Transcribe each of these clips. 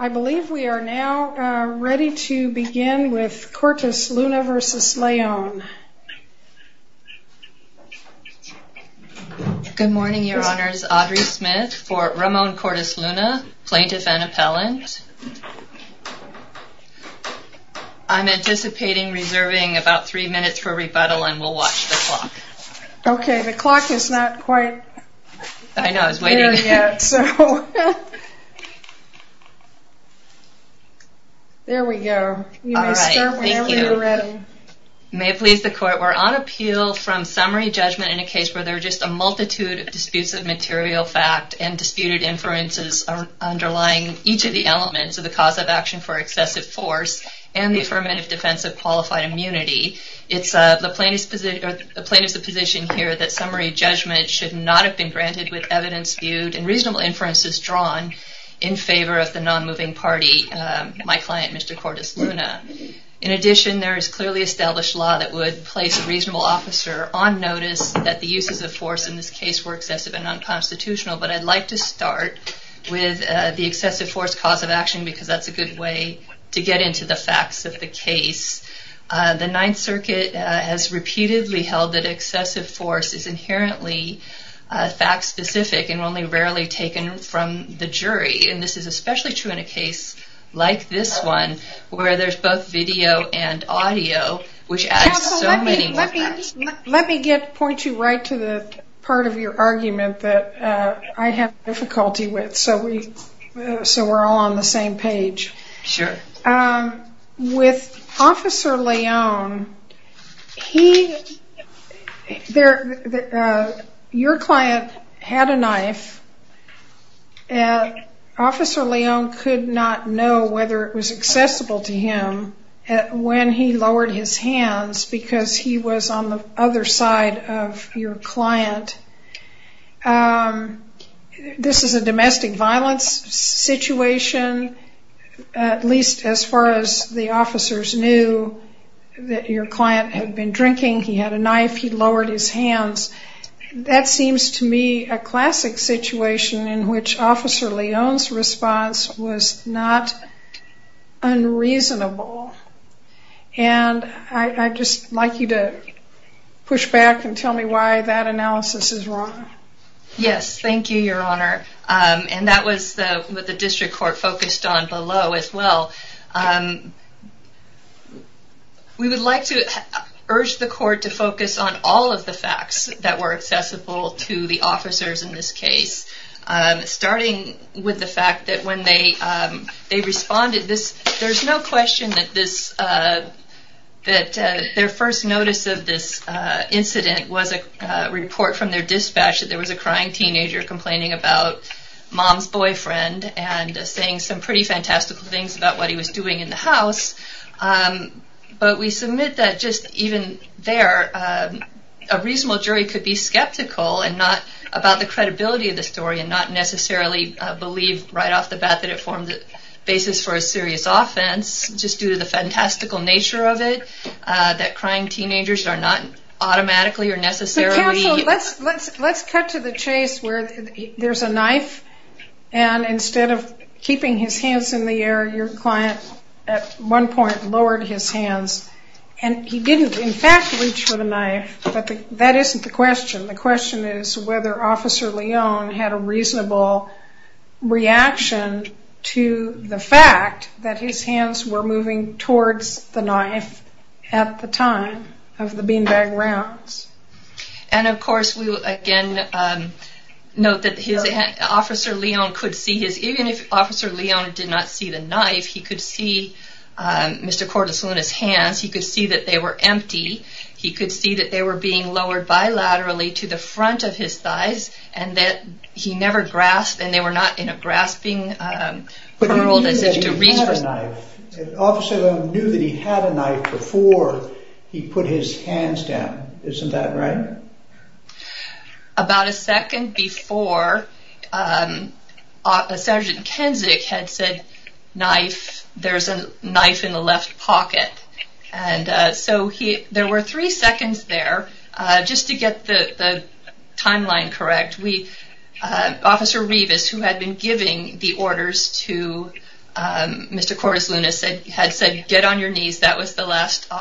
I believe we are now ready to begin with Cortesluna v. Leon. Good morning, Your Honors. Audrey Smith for Ramon Cortesluna, Plaintiff and Appellant. I'm anticipating reserving about three minutes for rebuttal and we'll watch the clock. Okay, the clock is not quite there yet. There we go. You may start whenever you're ready. May it please the Court, we're on appeal from summary judgment in a case where there are just a multitude of disputes of material fact and disputed inferences underlying each of the elements of the cause of action for excessive force and the affirmative defense of qualified immunity. It's the plaintiff's position here that summary judgment should not have been granted with evidence viewed and reasonable inferences drawn in favor of the non-moving party, my client, Mr. Cortesluna. In addition, there is clearly established law that would place a reasonable officer on notice that the uses of force in this case were excessive and unconstitutional, but I'd like to start with the excessive force cause of action because that's a good way to get into the facts of the case. The Ninth Circuit has repeatedly held that excessive force is inherently fact-specific and only rarely taken from the jury, and this is especially true in a case like this one where there's both video and audio, which adds so many more facts. Let me point you right to the part of your argument that I have difficulty with so we're all on the same page. Sure. With Officer Leone, your client had a knife. Officer Leone could not know whether it was accessible to him when he lowered his hands because he was on the other side of your client. This is a domestic violence situation, at least as far as the officers knew, that your client had been drinking, he had a knife, he lowered his hands. That seems to me a classic situation in which Officer Leone's response was not unreasonable. I'd just like you to push back and tell me why that analysis is wrong. Yes, thank you, Your Honor. That was what the district court focused on below as well. We would like to urge the court to focus on all of the facts that were accessible to the officers in this case, starting with the fact that when they responded, there's no question that their first notice of this incident was a report from their dispatch that there was a crying teenager complaining about mom's boyfriend and saying some pretty fantastical things about what he was doing in the house. But we submit that just even there, a reasonable jury could be skeptical about the credibility of the story and not necessarily believe right off the bat that it formed the basis for a serious offense just due to the fantastical nature of it, that crying teenagers are not automatically or necessarily... Let's cut to the chase where there's a knife and instead of keeping his hands in the air, your client at one point lowered his hands and he didn't, in fact, reach for the knife, but that isn't the question. The question is whether Officer Leone had a reasonable reaction to the fact that his hands were moving towards the knife at the time of the beanbag rounds. And of course, we will again note that Officer Leone could see his... Even if Officer Leone did not see the knife, he could see Mr. Cordes Luna's hands. He could see that they were empty. He could see that they were being lowered bilaterally to the front of his thighs and that he never grasped and they were not in a grasping world as if to reach for... But he knew that he had a knife. ...before he put his hands down. Isn't that right? About a second before, Sergeant Kenzick had said, Knife, there's a knife in the left pocket. And so there were three seconds there. Just to get the timeline correct, we... Officer Revis, who had been giving the orders to Mr. Cordes Luna, had said, Get on your knees. That was the last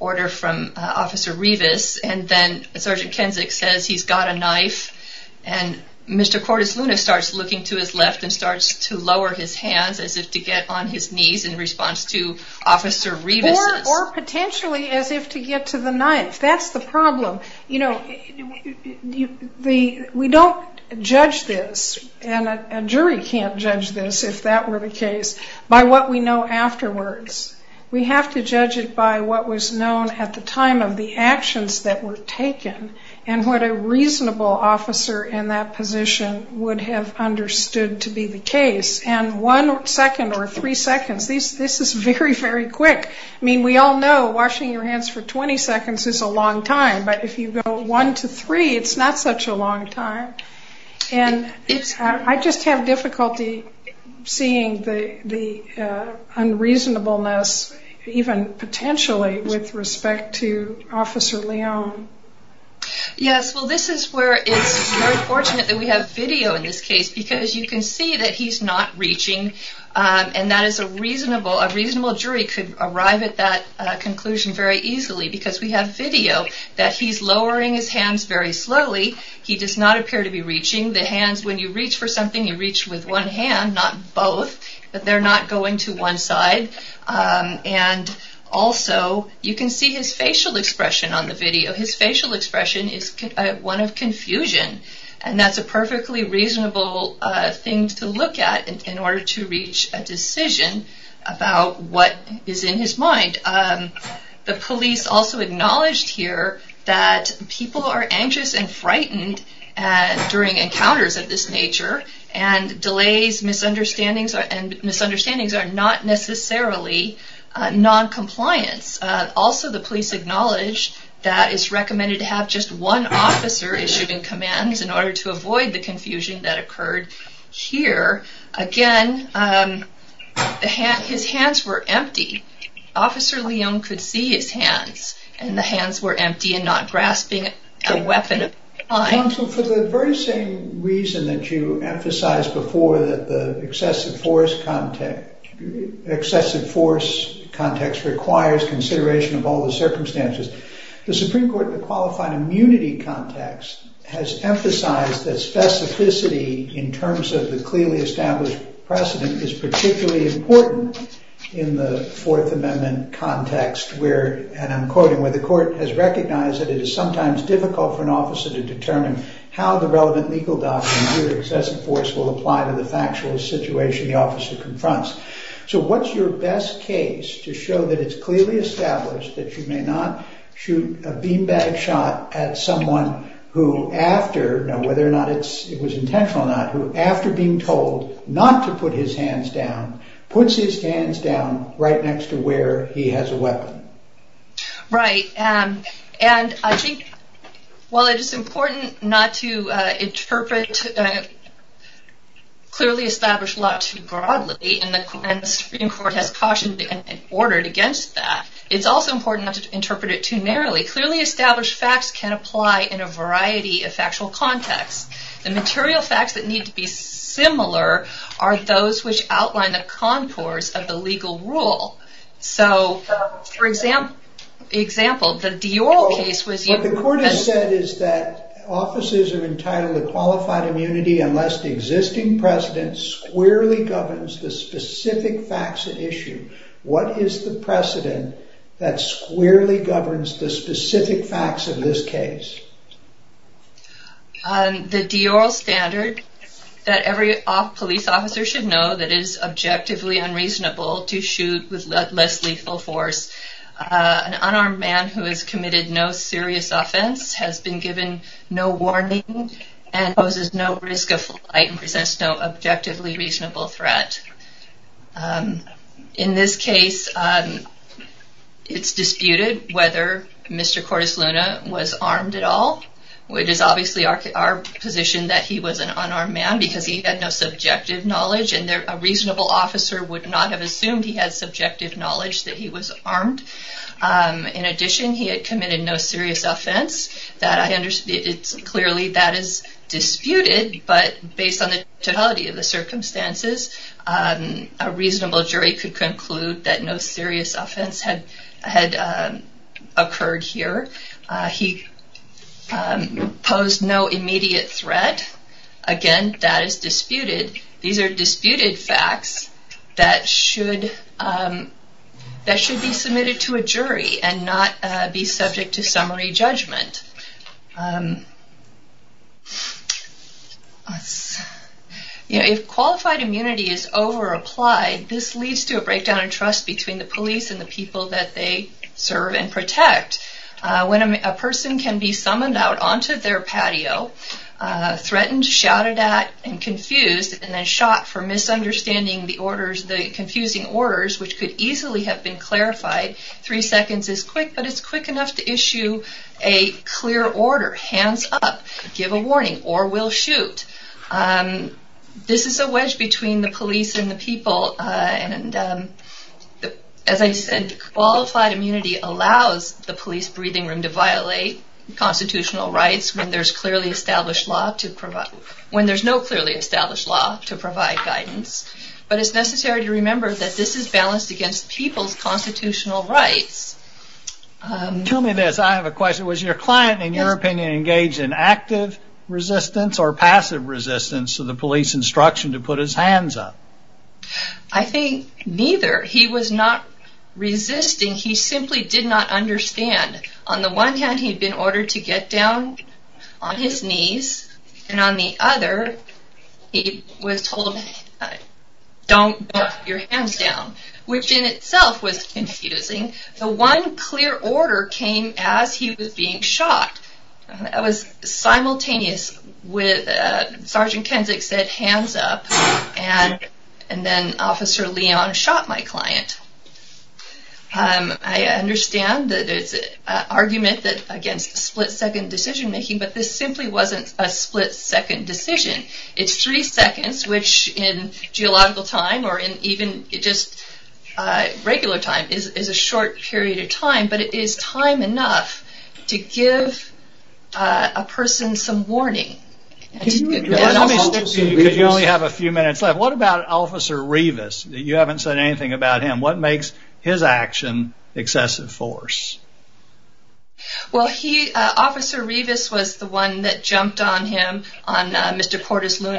order from Officer Revis. And then Sergeant Kenzick says, He's got a knife. And Mr. Cordes Luna starts looking to his left and starts to lower his hands as if to get on his knees in response to Officer Revis'. Or potentially as if to get to the knife. That's the problem. You know, we don't judge this, and a jury can't judge this if that were the case, by what we know afterwards. We have to judge it by what was known at the time of the actions that were taken and what a reasonable officer in that position would have understood to be the case. And one second or three seconds, this is very, very quick. I mean, we all know washing your hands for 20 seconds is a long time. But if you go one to three, it's not such a long time. And I just have difficulty seeing the unreasonableness, even potentially with respect to Officer Leon. Yes, well this is where it's very fortunate that we have video in this case, because you can see that he's not reaching, and that is a reasonable jury could arrive at that conclusion very easily, because we have video that he's lowering his hands very slowly. He does not appear to be reaching. The hands, when you reach for something, you reach with one hand, not both. But they're not going to one side. And also, you can see his facial expression on the video. His facial expression is one of confusion, and that's a perfectly reasonable thing to look at in order to reach a decision about what is in his mind. The police also acknowledged here that people are anxious and frightened during encounters of this nature, and delays, misunderstandings, and misunderstandings are not necessarily noncompliance. Also, the police acknowledged that it's recommended to have just one officer issued in command in order to avoid the confusion that occurred here. Again, his hands were empty. Officer Leung could see his hands, and the hands were empty and not grasping a weapon. Counsel, for the very same reason that you emphasized before, that the excessive force context requires consideration of all the circumstances, the Supreme Court, in the qualified immunity context, has emphasized that specificity in terms of the clearly established precedent is particularly important in the Fourth Amendment context where, and I'm quoting, where the court has recognized that it is sometimes difficult for an officer to determine how the relevant legal documents or excessive force will apply to the factual situation the officer confronts. So what's your best case to show that it's clearly established that you may not shoot a beanbag shot at someone who after, whether or not it was intentional or not, who after being told not to put his hands down, puts his hands down right next to where he has a weapon? Right, and I think while it is important not to interpret clearly established law too broadly, and the Supreme Court has cautioned and ordered against that, it's also important not to interpret it too narrowly. Clearly established facts can apply in a variety of factual contexts. The material facts that need to be similar are those which outline the concourse of the legal rule. So, for example, the Dior case was... What the court has said is that officers are entitled to qualified immunity unless the existing precedent squarely governs the specific facts at issue. What is the precedent that squarely governs the specific facts of this case? The Dior standard that every police officer should know that it is objectively unreasonable to shoot with less lethal force. An unarmed man who has committed no serious offense has been given no warning and poses no risk of flight and presents no objectively reasonable threat. In this case, it's disputed whether Mr. Cordes Luna was armed at all, which is obviously our position that he was an unarmed man because he had no subjective knowledge and a reasonable officer would not have assumed he had subjective knowledge that he was armed. In addition, he had committed no serious offense. Clearly that is disputed, but based on the totality of the circumstances, a reasonable jury could conclude that no serious offense had occurred here. He posed no immediate threat. Again, that is disputed. These are disputed facts that should be submitted to a jury and not be subject to summary judgment. If qualified immunity is over-applied, this leads to a breakdown of trust between the police and the people that they serve and protect. When a person can be summoned out onto their patio, threatened, shouted at, and confused, and then shot for misunderstanding the confusing orders, which could easily have been clarified three seconds is quick, but it's quick enough to issue a clear order, hands up, give a warning, or we'll shoot. This is a wedge between the police and the people. As I said, qualified immunity allows the police breathing room to violate constitutional rights when there's no clearly established law to provide guidance. But it's necessary to remember that this is balanced against people's constitutional rights Tell me this. I have a question. Was your client, in your opinion, engaged in active resistance or passive resistance to the police instruction to put his hands up? I think neither. He was not resisting. He simply did not understand. On the one hand, he'd been ordered to get down on his knees, and on the other, he was told, don't put your hands down, which in itself was confusing. The one clear order came as he was being shot. It was simultaneous. Sergeant Kensick said, hands up, and then Officer Leon shot my client. I understand that it's an argument against split-second decision making, but this simply wasn't a split-second decision. It's three seconds, which in geological time, or even just regular time, is a short period of time, but it is time enough to give a person some warning. You only have a few minutes left. What about Officer Revis? You haven't said anything about him. What makes his action excessive force? Officer Revis was the one that jumped on him, on Mr. Portis Luna,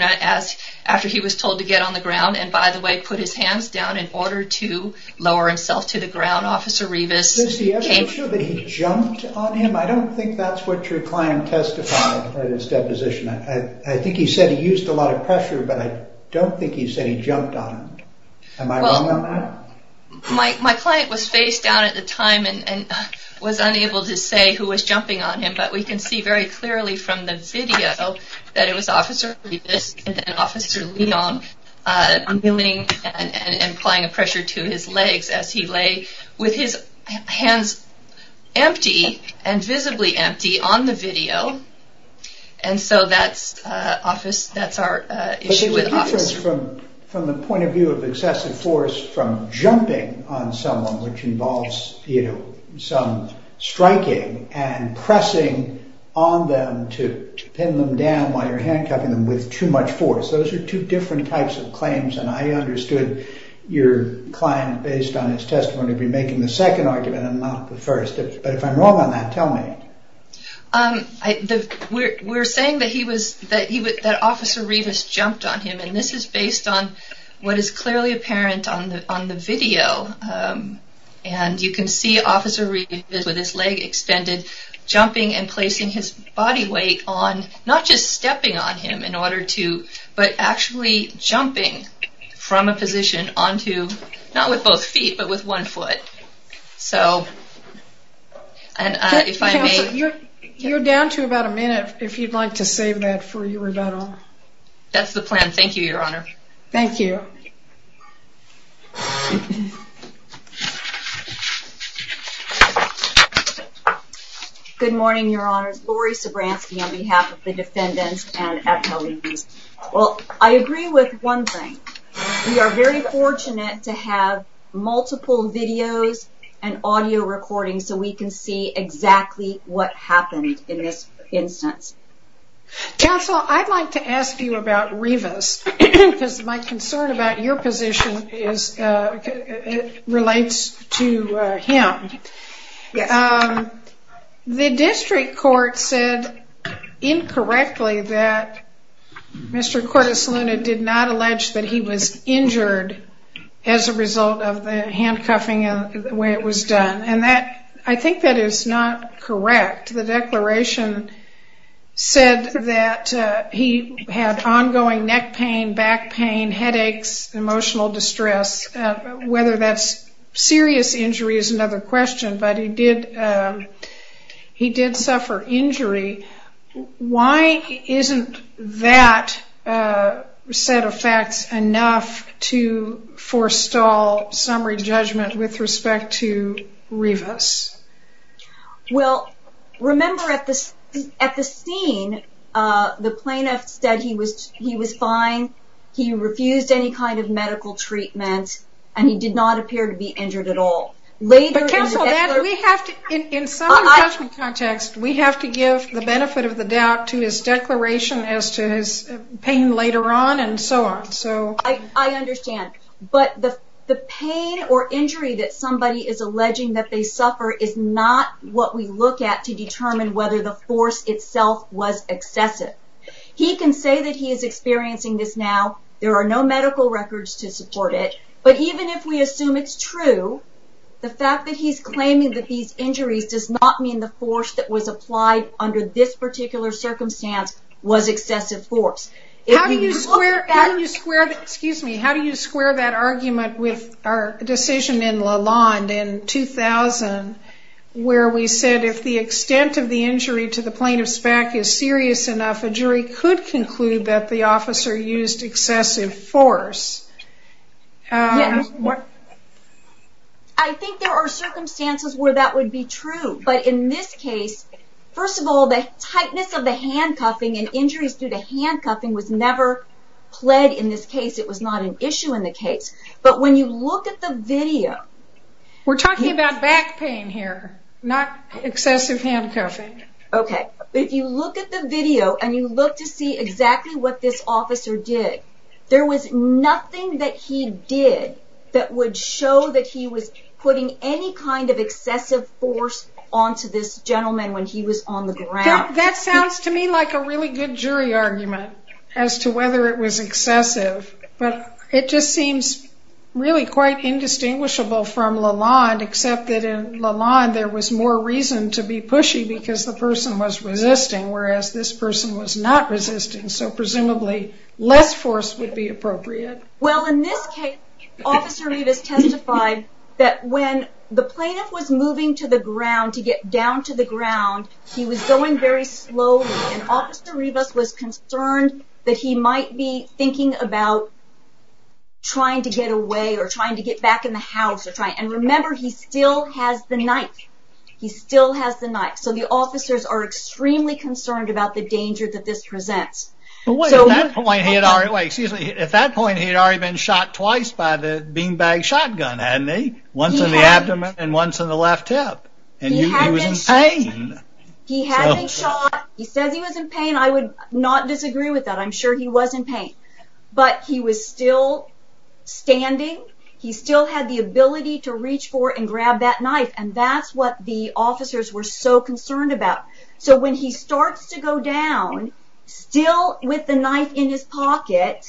after he was told to get on the ground. By the way, he put his hands down in order to lower himself to the ground. Officer Revis... Is it true that he jumped on him? I don't think that's what your client testified in his deposition. I think he said he used a lot of pressure, but I don't think he said he jumped on him. Am I wrong on that? My client was face down at the time and was unable to say who was jumping on him, but we can see very clearly from the video that it was Officer Revis and then Officer Leon kneeling and applying pressure to his legs as he lay with his hands empty and visibly empty on the video. And so that's our issue with Officer Revis. But there's a difference from the point of view of excessive force from jumping on someone, which involves some striking and pressing on them to pin them down while you're handcuffing them with too much force. Those are two different types of claims, and I understood your client, based on his testimony, would be making the second argument and not the first. But if I'm wrong on that, tell me. We're saying that Officer Revis jumped on him, and this is based on what is clearly apparent on the video. And you can see Officer Revis with his leg extended jumping and placing his body weight on, not just stepping on him in order to, but actually jumping from a position onto, not with both feet, but with one foot. You're down to about a minute, if you'd like to save that for your rebuttal. That's the plan. Thank you, Your Honor. Thank you. Good morning, Your Honors. This is Lori Sobranski on behalf of the defendants and attorneys. Well, I agree with one thing. We are very fortunate to have multiple videos and audio recordings so we can see exactly what happened in this instance. Counsel, I'd like to ask you about Revis, because my concern about your position relates to him. Yes. The district court said, incorrectly, that Mr. Cortes Luna did not allege that he was injured as a result of the handcuffing and the way it was done. And I think that is not correct. The declaration said that he had ongoing neck pain, back pain, headaches, emotional distress. Whether that's serious injury is another question, but he did suffer injury. Why isn't that set of facts enough to forestall summary judgment with respect to Revis? Well, remember at the scene, the plaintiff said he was fine, he refused any kind of medical treatment, and he did not appear to be injured at all. But Counsel, in summary judgment context, we have to give the benefit of the doubt to his declaration as to his pain later on and so on. I understand. But the pain or injury that somebody is alleging that they suffer is not what we look at to determine whether the force itself was excessive. He can say that he is experiencing this now, there are no medical records to support it, but even if we assume it's true, the fact that he's claiming that these injuries does not mean the force that was applied under this particular circumstance was excessive force. How do you square that argument with our decision in Lalonde in 2000 where we said if the extent of the injury to the plaintiff's back is serious enough, a jury could conclude that the officer used excessive force? Yes. I think there are circumstances where that would be true. But in this case, first of all, the tightness of the handcuffing and injuries due to handcuffing was never pled in this case. It was not an issue in the case. But when you look at the video... We're talking about back pain here, not excessive handcuffing. Okay, if you look at the video and you look to see exactly what this officer did, there was nothing that he did that would show that he was putting any kind of excessive force onto this gentleman when he was on the ground. That sounds to me like a really good jury argument as to whether it was excessive, but it just seems really quite indistinguishable from Lalonde, except that in Lalonde there was more reason to be pushy because the person was resisting, whereas this person was not resisting, so presumably less force would be appropriate. Well, in this case, Officer Rivas testified that when the plaintiff was moving to the ground, to get down to the ground, he was going very slowly, and Officer Rivas was concerned that he might be thinking about trying to get away or trying to get back in the house. And remember, he still has the knife. He still has the knife. So the officers are extremely concerned about the danger that this presents. But wait, at that point he had already been shot twice by the beanbag shotgun, hadn't he? Once in the abdomen and once in the left hip. And he was in pain. He hadn't shot. He says he was in pain. I would not disagree with that. I'm sure he was in pain. But he was still standing. He still had the ability to reach for and grab that knife, and that's what the officers were so concerned about. So when he starts to go down, still with the knife in his pocket,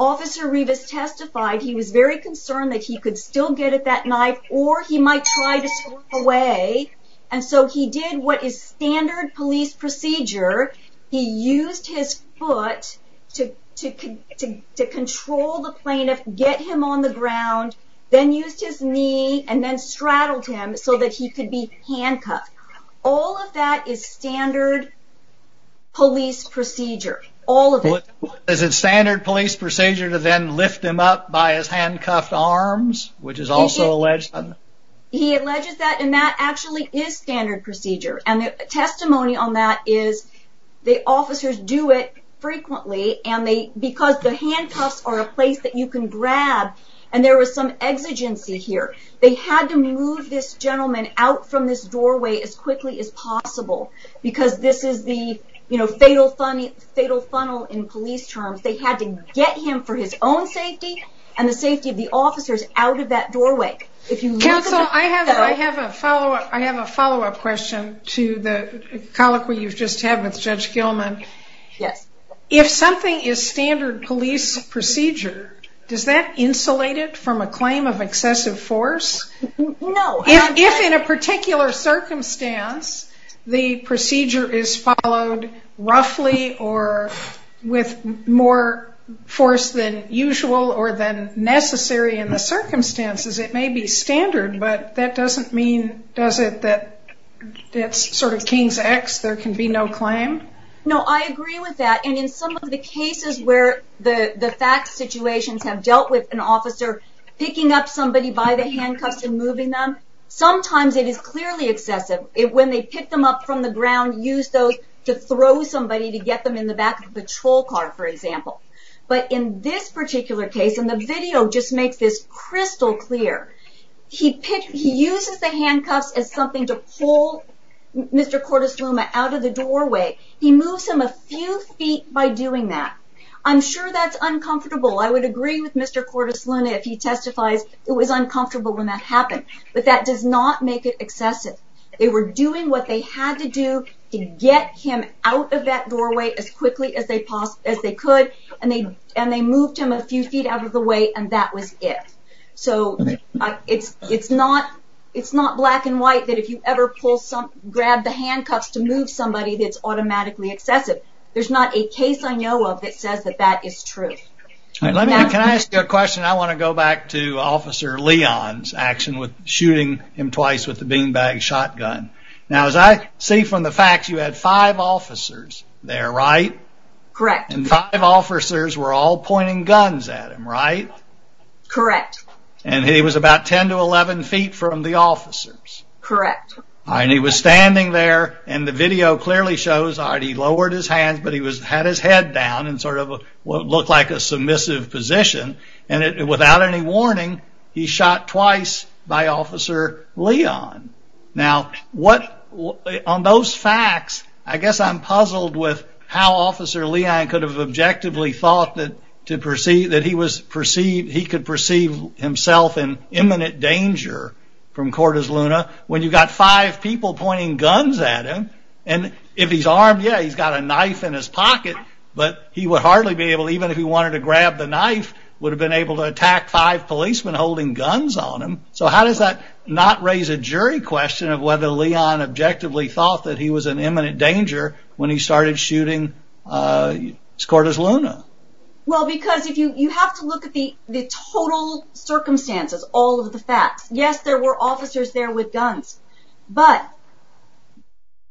Officer Rivas testified he was very concerned that he could still get at that knife or he might try to slip away. And so he did what is standard police procedure. He used his foot to control the plaintiff, get him on the ground, then used his knee and then straddled him so that he could be handcuffed. All of that is standard police procedure. All of it. Is it standard police procedure to then lift him up by his handcuffed arms, which is also alleged? He alleges that, and that actually is standard procedure. And the testimony on that is the officers do it frequently, because the handcuffs are a place that you can grab. And there was some exigency here. They had to move this gentleman out from this doorway as quickly as possible, because this is the fatal funnel in police terms. They had to get him for his own safety and the safety of the officers out of that doorway. Counsel, I have a follow-up question to the colloquy you just had with Judge Gilman. Yes. If something is standard police procedure, does that insulate it from a claim of excessive force? No. If, in a particular circumstance, the procedure is followed roughly or with more force than usual or than necessary in the circumstances, it may be standard, but that doesn't mean, does it, that it's sort of king's X, there can be no claim? No, I agree with that. And in some of the cases where the facts situations have dealt with an officer picking up somebody by the handcuffs and moving them, sometimes it is clearly excessive. When they pick them up from the ground, use those to throw somebody to get them in the back of the patrol car, for example. But in this particular case, and the video just makes this crystal clear, he uses the handcuffs as something to pull Mr. Cordes-Luma out of the doorway. He moves him a few feet by doing that. I'm sure that's uncomfortable. I would agree with Mr. Cordes-Luma if he testifies it was uncomfortable when that happened. But that does not make it excessive. They were doing what they had to do to get him out of that doorway as quickly as they could, and they moved him a few feet out of the way, and that was it. So, it's not black and white that if you ever grab the handcuffs to move somebody that it's automatically excessive. There's not a case I know of that says that is true. Can I ask you a question? I want to go back to Officer Leon's action with shooting him twice with the beanbag shotgun. Now, as I see from the facts, you had five officers there, right? Correct. And five officers were all pointing guns at him, right? Correct. And he was about 10 to 11 feet from the officers. Correct. And he was standing there, and the video clearly shows he lowered his hands, but he had his head down in sort of what looked like a submissive position. And without any warning, he shot twice by Officer Leon. Now, on those facts, I guess I'm puzzled with how Officer Leon could have objectively thought that he could perceive himself in imminent danger from Cortez-Luna when you've got five people pointing guns at him. And if he's armed, yeah, he's got a knife in his pocket, but he would hardly be able, even if he wanted to grab the knife, would have been able to attack five policemen holding guns on him. So how does that not raise a jury question of whether Leon objectively thought that he was in imminent danger when he started shooting Cortez-Luna? Well, because you have to look at the total circumstances, all of the facts. Yes, there were officers there with guns. But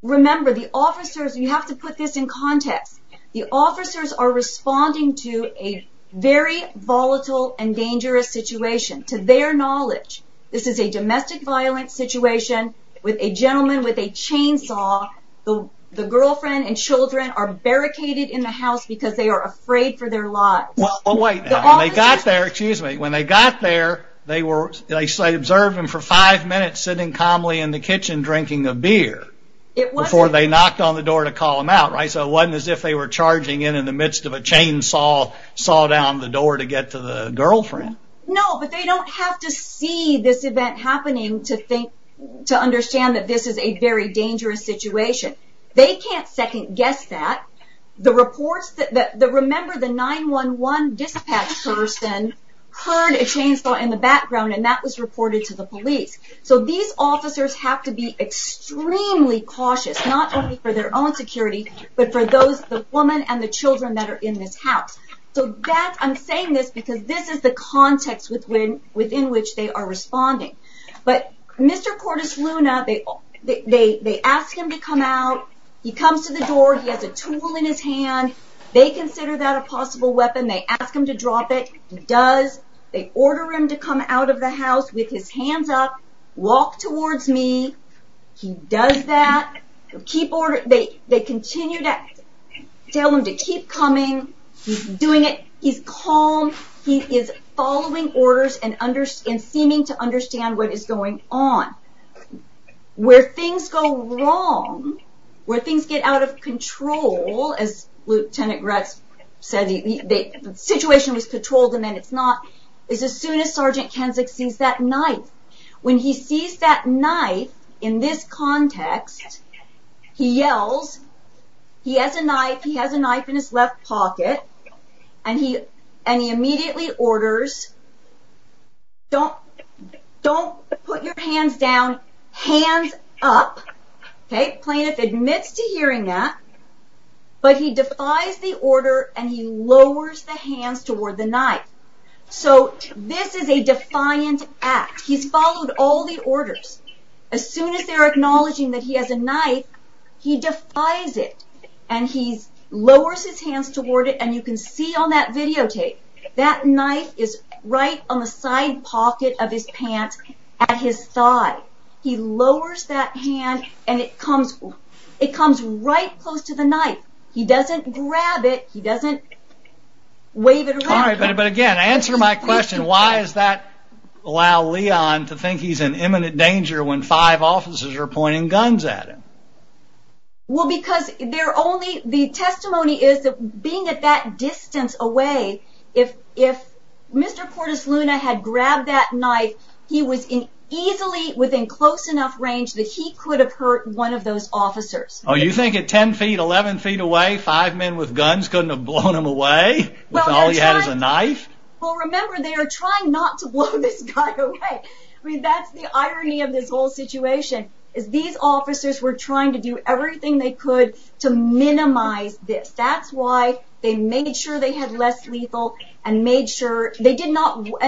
remember, the officers, you have to put this in context, the officers are responding to a very volatile and dangerous situation to their knowledge. This is a domestic violence situation with a gentleman with a chainsaw. The girlfriend and children are barricaded in the house because they are afraid for their lives. Well, wait. When they got there, they observed him for five minutes sitting calmly in the kitchen drinking a beer before they knocked on the door to call him out. So it wasn't as if they were charging in in the midst of a chainsaw saw down the door to get to the girlfriend. No, but they don't have to see this event happening to understand that this is a very dangerous situation. They can't second-guess that. Remember, the 911 dispatch person heard a chainsaw in the background and that was reported to the police. So these officers have to be extremely cautious, not only for their own security, but for the woman and the children that are in this house. I'm saying this because this is the context within which they are responding. But Mr. Cordis Luna, they asked him to come out, he comes to the door, he has a tool in his hand, they consider that a possible weapon, they ask him to drop it, he does, they order him to come out of the house with his hands up, walk towards me, he does that, they continue to tell him to keep coming, he's doing it, he's calm, he is following orders and seeming to understand what is going on. Where things go wrong, where things get out of control, as Lieutenant Gratz said, the situation was controlled and then it's not, is as soon as Sergeant Kensick sees that knife. When he sees that knife, in this context, he yells, he has a knife, he has a knife in his left pocket, and he immediately orders, don't put your hands down, hands up, Plaintiff admits to hearing that, but he defies the order and he lowers the hands toward the knife. So, this is a defiant act, he's followed all the orders, as soon as they are acknowledging that he has a knife, he defies it, and he lowers his hands toward it, and you can see on that videotape, that knife is right on the side pocket of his pants at his thigh. He lowers that hand and it comes right close to the knife. He doesn't grab it, he doesn't wave it around. But again, answer my question, why does that allow Leon to think he's in imminent danger when five officers are pointing guns at him? Well, because the testimony is that being at that distance away, if Mr. Cordes Luna had grabbed that knife, he was easily within close enough range that he could have hurt one of those officers. Oh, you think at 10 feet, 11 feet away, five men with guns couldn't have blown him away? With all he had is a knife? Well, remember, they are trying not to blow this guy away. I mean, that's the irony of this whole situation, is these officers were trying to do everything they could to minimize this. That's why they made sure they had less lethal and made sure that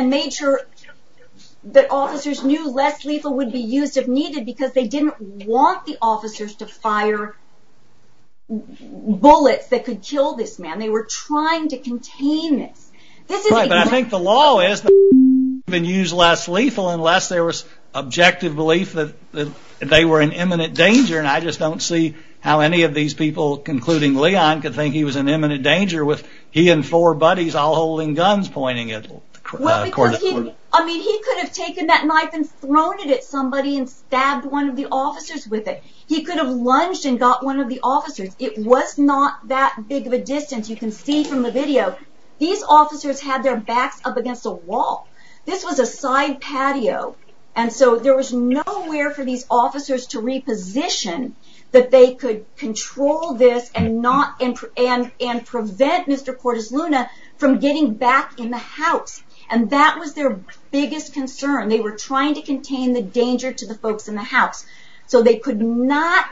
officers knew less lethal would be used if needed, because they didn't want the officers to fire bullets that could kill this man. They were trying to contain this. Right, but I think the law is that you can't even use less lethal unless there was objective belief that they were in imminent danger, and I just don't see how any of these people, including Leon, could think he was in imminent danger with he and four buddies all holding guns pointing at him. Well, because he could have taken that knife and thrown it at somebody and stabbed one of the officers with it. He could have lunged and got one of the officers. It was not that big of a distance. You can see from the video. These officers had their backs up against a wall. This was a side patio, and so there was nowhere for these officers to reposition that they could control this and prevent Mr. Cordes Luna from getting back in the house, and that was their biggest concern. They were trying to contain the danger to the folks in the house, so they could not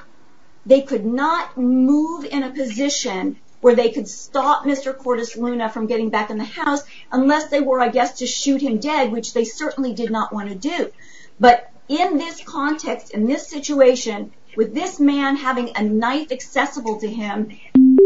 move in a position where they could stop Mr. Cordes Luna from getting back in the house unless they were, I guess, to shoot him dead, which they certainly did not want to do, but in this context, in this situation, with this man having a knife accessible to him in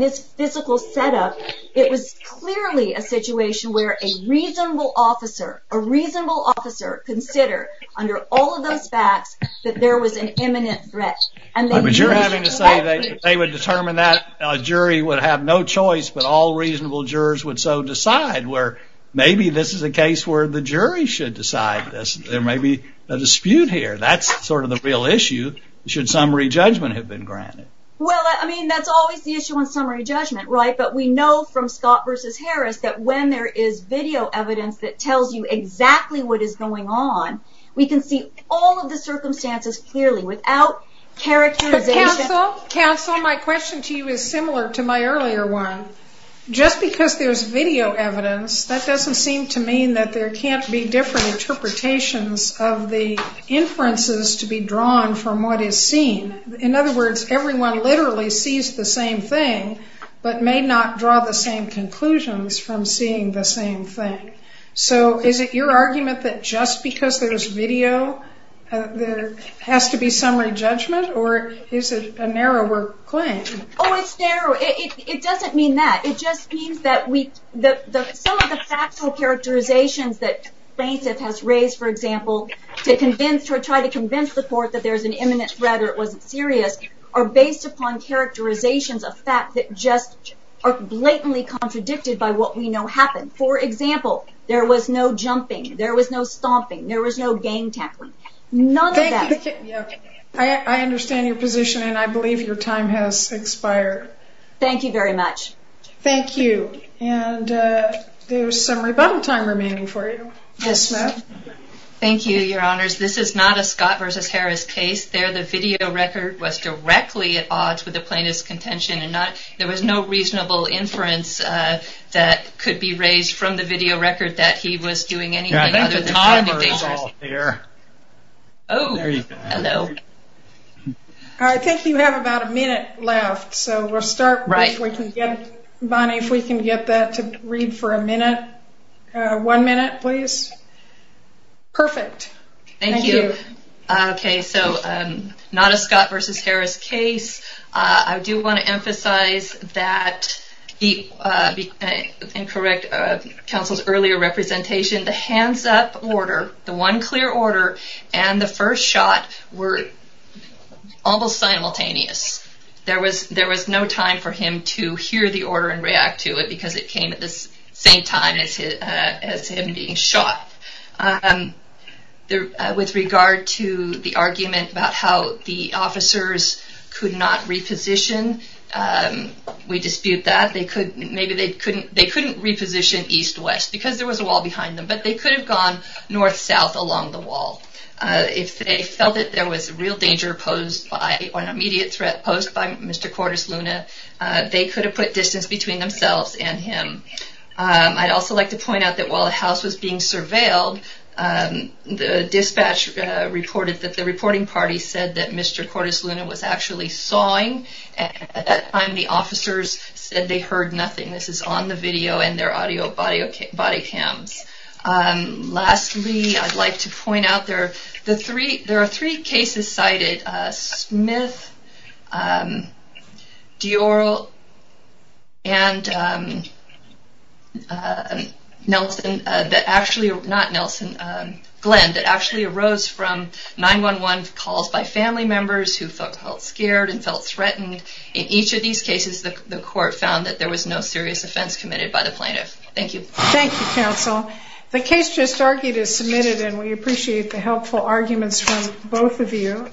this physical setup, it was clearly a situation where a reasonable officer, a reasonable officer, considered under all of those facts that there was an imminent threat. But you're having to say that they would determine that a jury would have no choice, but all reasonable jurors would so decide, where maybe this is a case where the jury should decide this. There may be a dispute here. That's sort of the real issue, should summary judgment have been granted. Well, I mean, that's always the issue on summary judgment, right? But we know from Scott v. Harris that when there is video evidence that tells you exactly what is going on, we can see all of the circumstances clearly without characterization. Counsel, my question to you is similar to my earlier one. Just because there's video evidence, that doesn't seem to mean that there can't be different interpretations of the inferences to be drawn from what is seen. In other words, everyone literally sees the same thing, but may not draw the same conclusions from seeing the same thing. So is it your argument that just because there's video, there has to be summary judgment, or is it a narrower claim? Oh, it's narrow. It doesn't mean that. It just means that some of the factual characterizations that plaintiff has raised, for example, to try to convince the court that there's an imminent threat or it wasn't serious, are based upon characterizations of fact that just are blatantly contradicted by what we know happened. For example, there was no jumping, there was no stomping, there was no gang tackling. None of that. I understand your position, and I believe your time has expired. Thank you very much. Thank you. And there's some rebuttal time remaining for you. Yes, Smith. Thank you, Your Honors. This is not a Scott v. Harris case. There the video record was directly at odds with the plaintiff's contention, and there was no reasonable inference that could be raised from the video record that he was doing anything other than... I think the timer is off here. Oh. There you go. Hello. I think you have about a minute left, so we'll start... Right. Bonnie, if we can get that to read for a minute. One minute, please. Thank you. Thank you. Okay, so not a Scott v. Harris case. I do want to emphasize that, and correct counsel's earlier representation, the hands-up order, the one clear order, and the first shot were almost simultaneous. There was no time for him to hear the order and react to it, because it came at the same time as him being shot. With regard to the argument about how the officers could not reposition, we dispute that. Maybe they couldn't reposition east-west because there was a wall behind them, but they could have gone north-south along the wall if they felt that there was real danger or an immediate threat posed by Mr. Cordes Luna. They could have put distance between themselves and him. I'd also like to point out that while the house was being surveilled, the dispatch reported that the reporting party said that Mr. Cordes Luna was actually sawing at the time the officers said they heard nothing. This is on the video and their audio body cams. Lastly, I'd like to point out that there are three cases cited, Smith, Dior, and Glenn, that actually arose from 911 calls by family members who felt scared and felt threatened. In each of these cases, the court found that there was no serious offense committed by the plaintiff. Thank you. Thank you, counsel. The case just argued is submitted, and we appreciate the helpful arguments from both of you.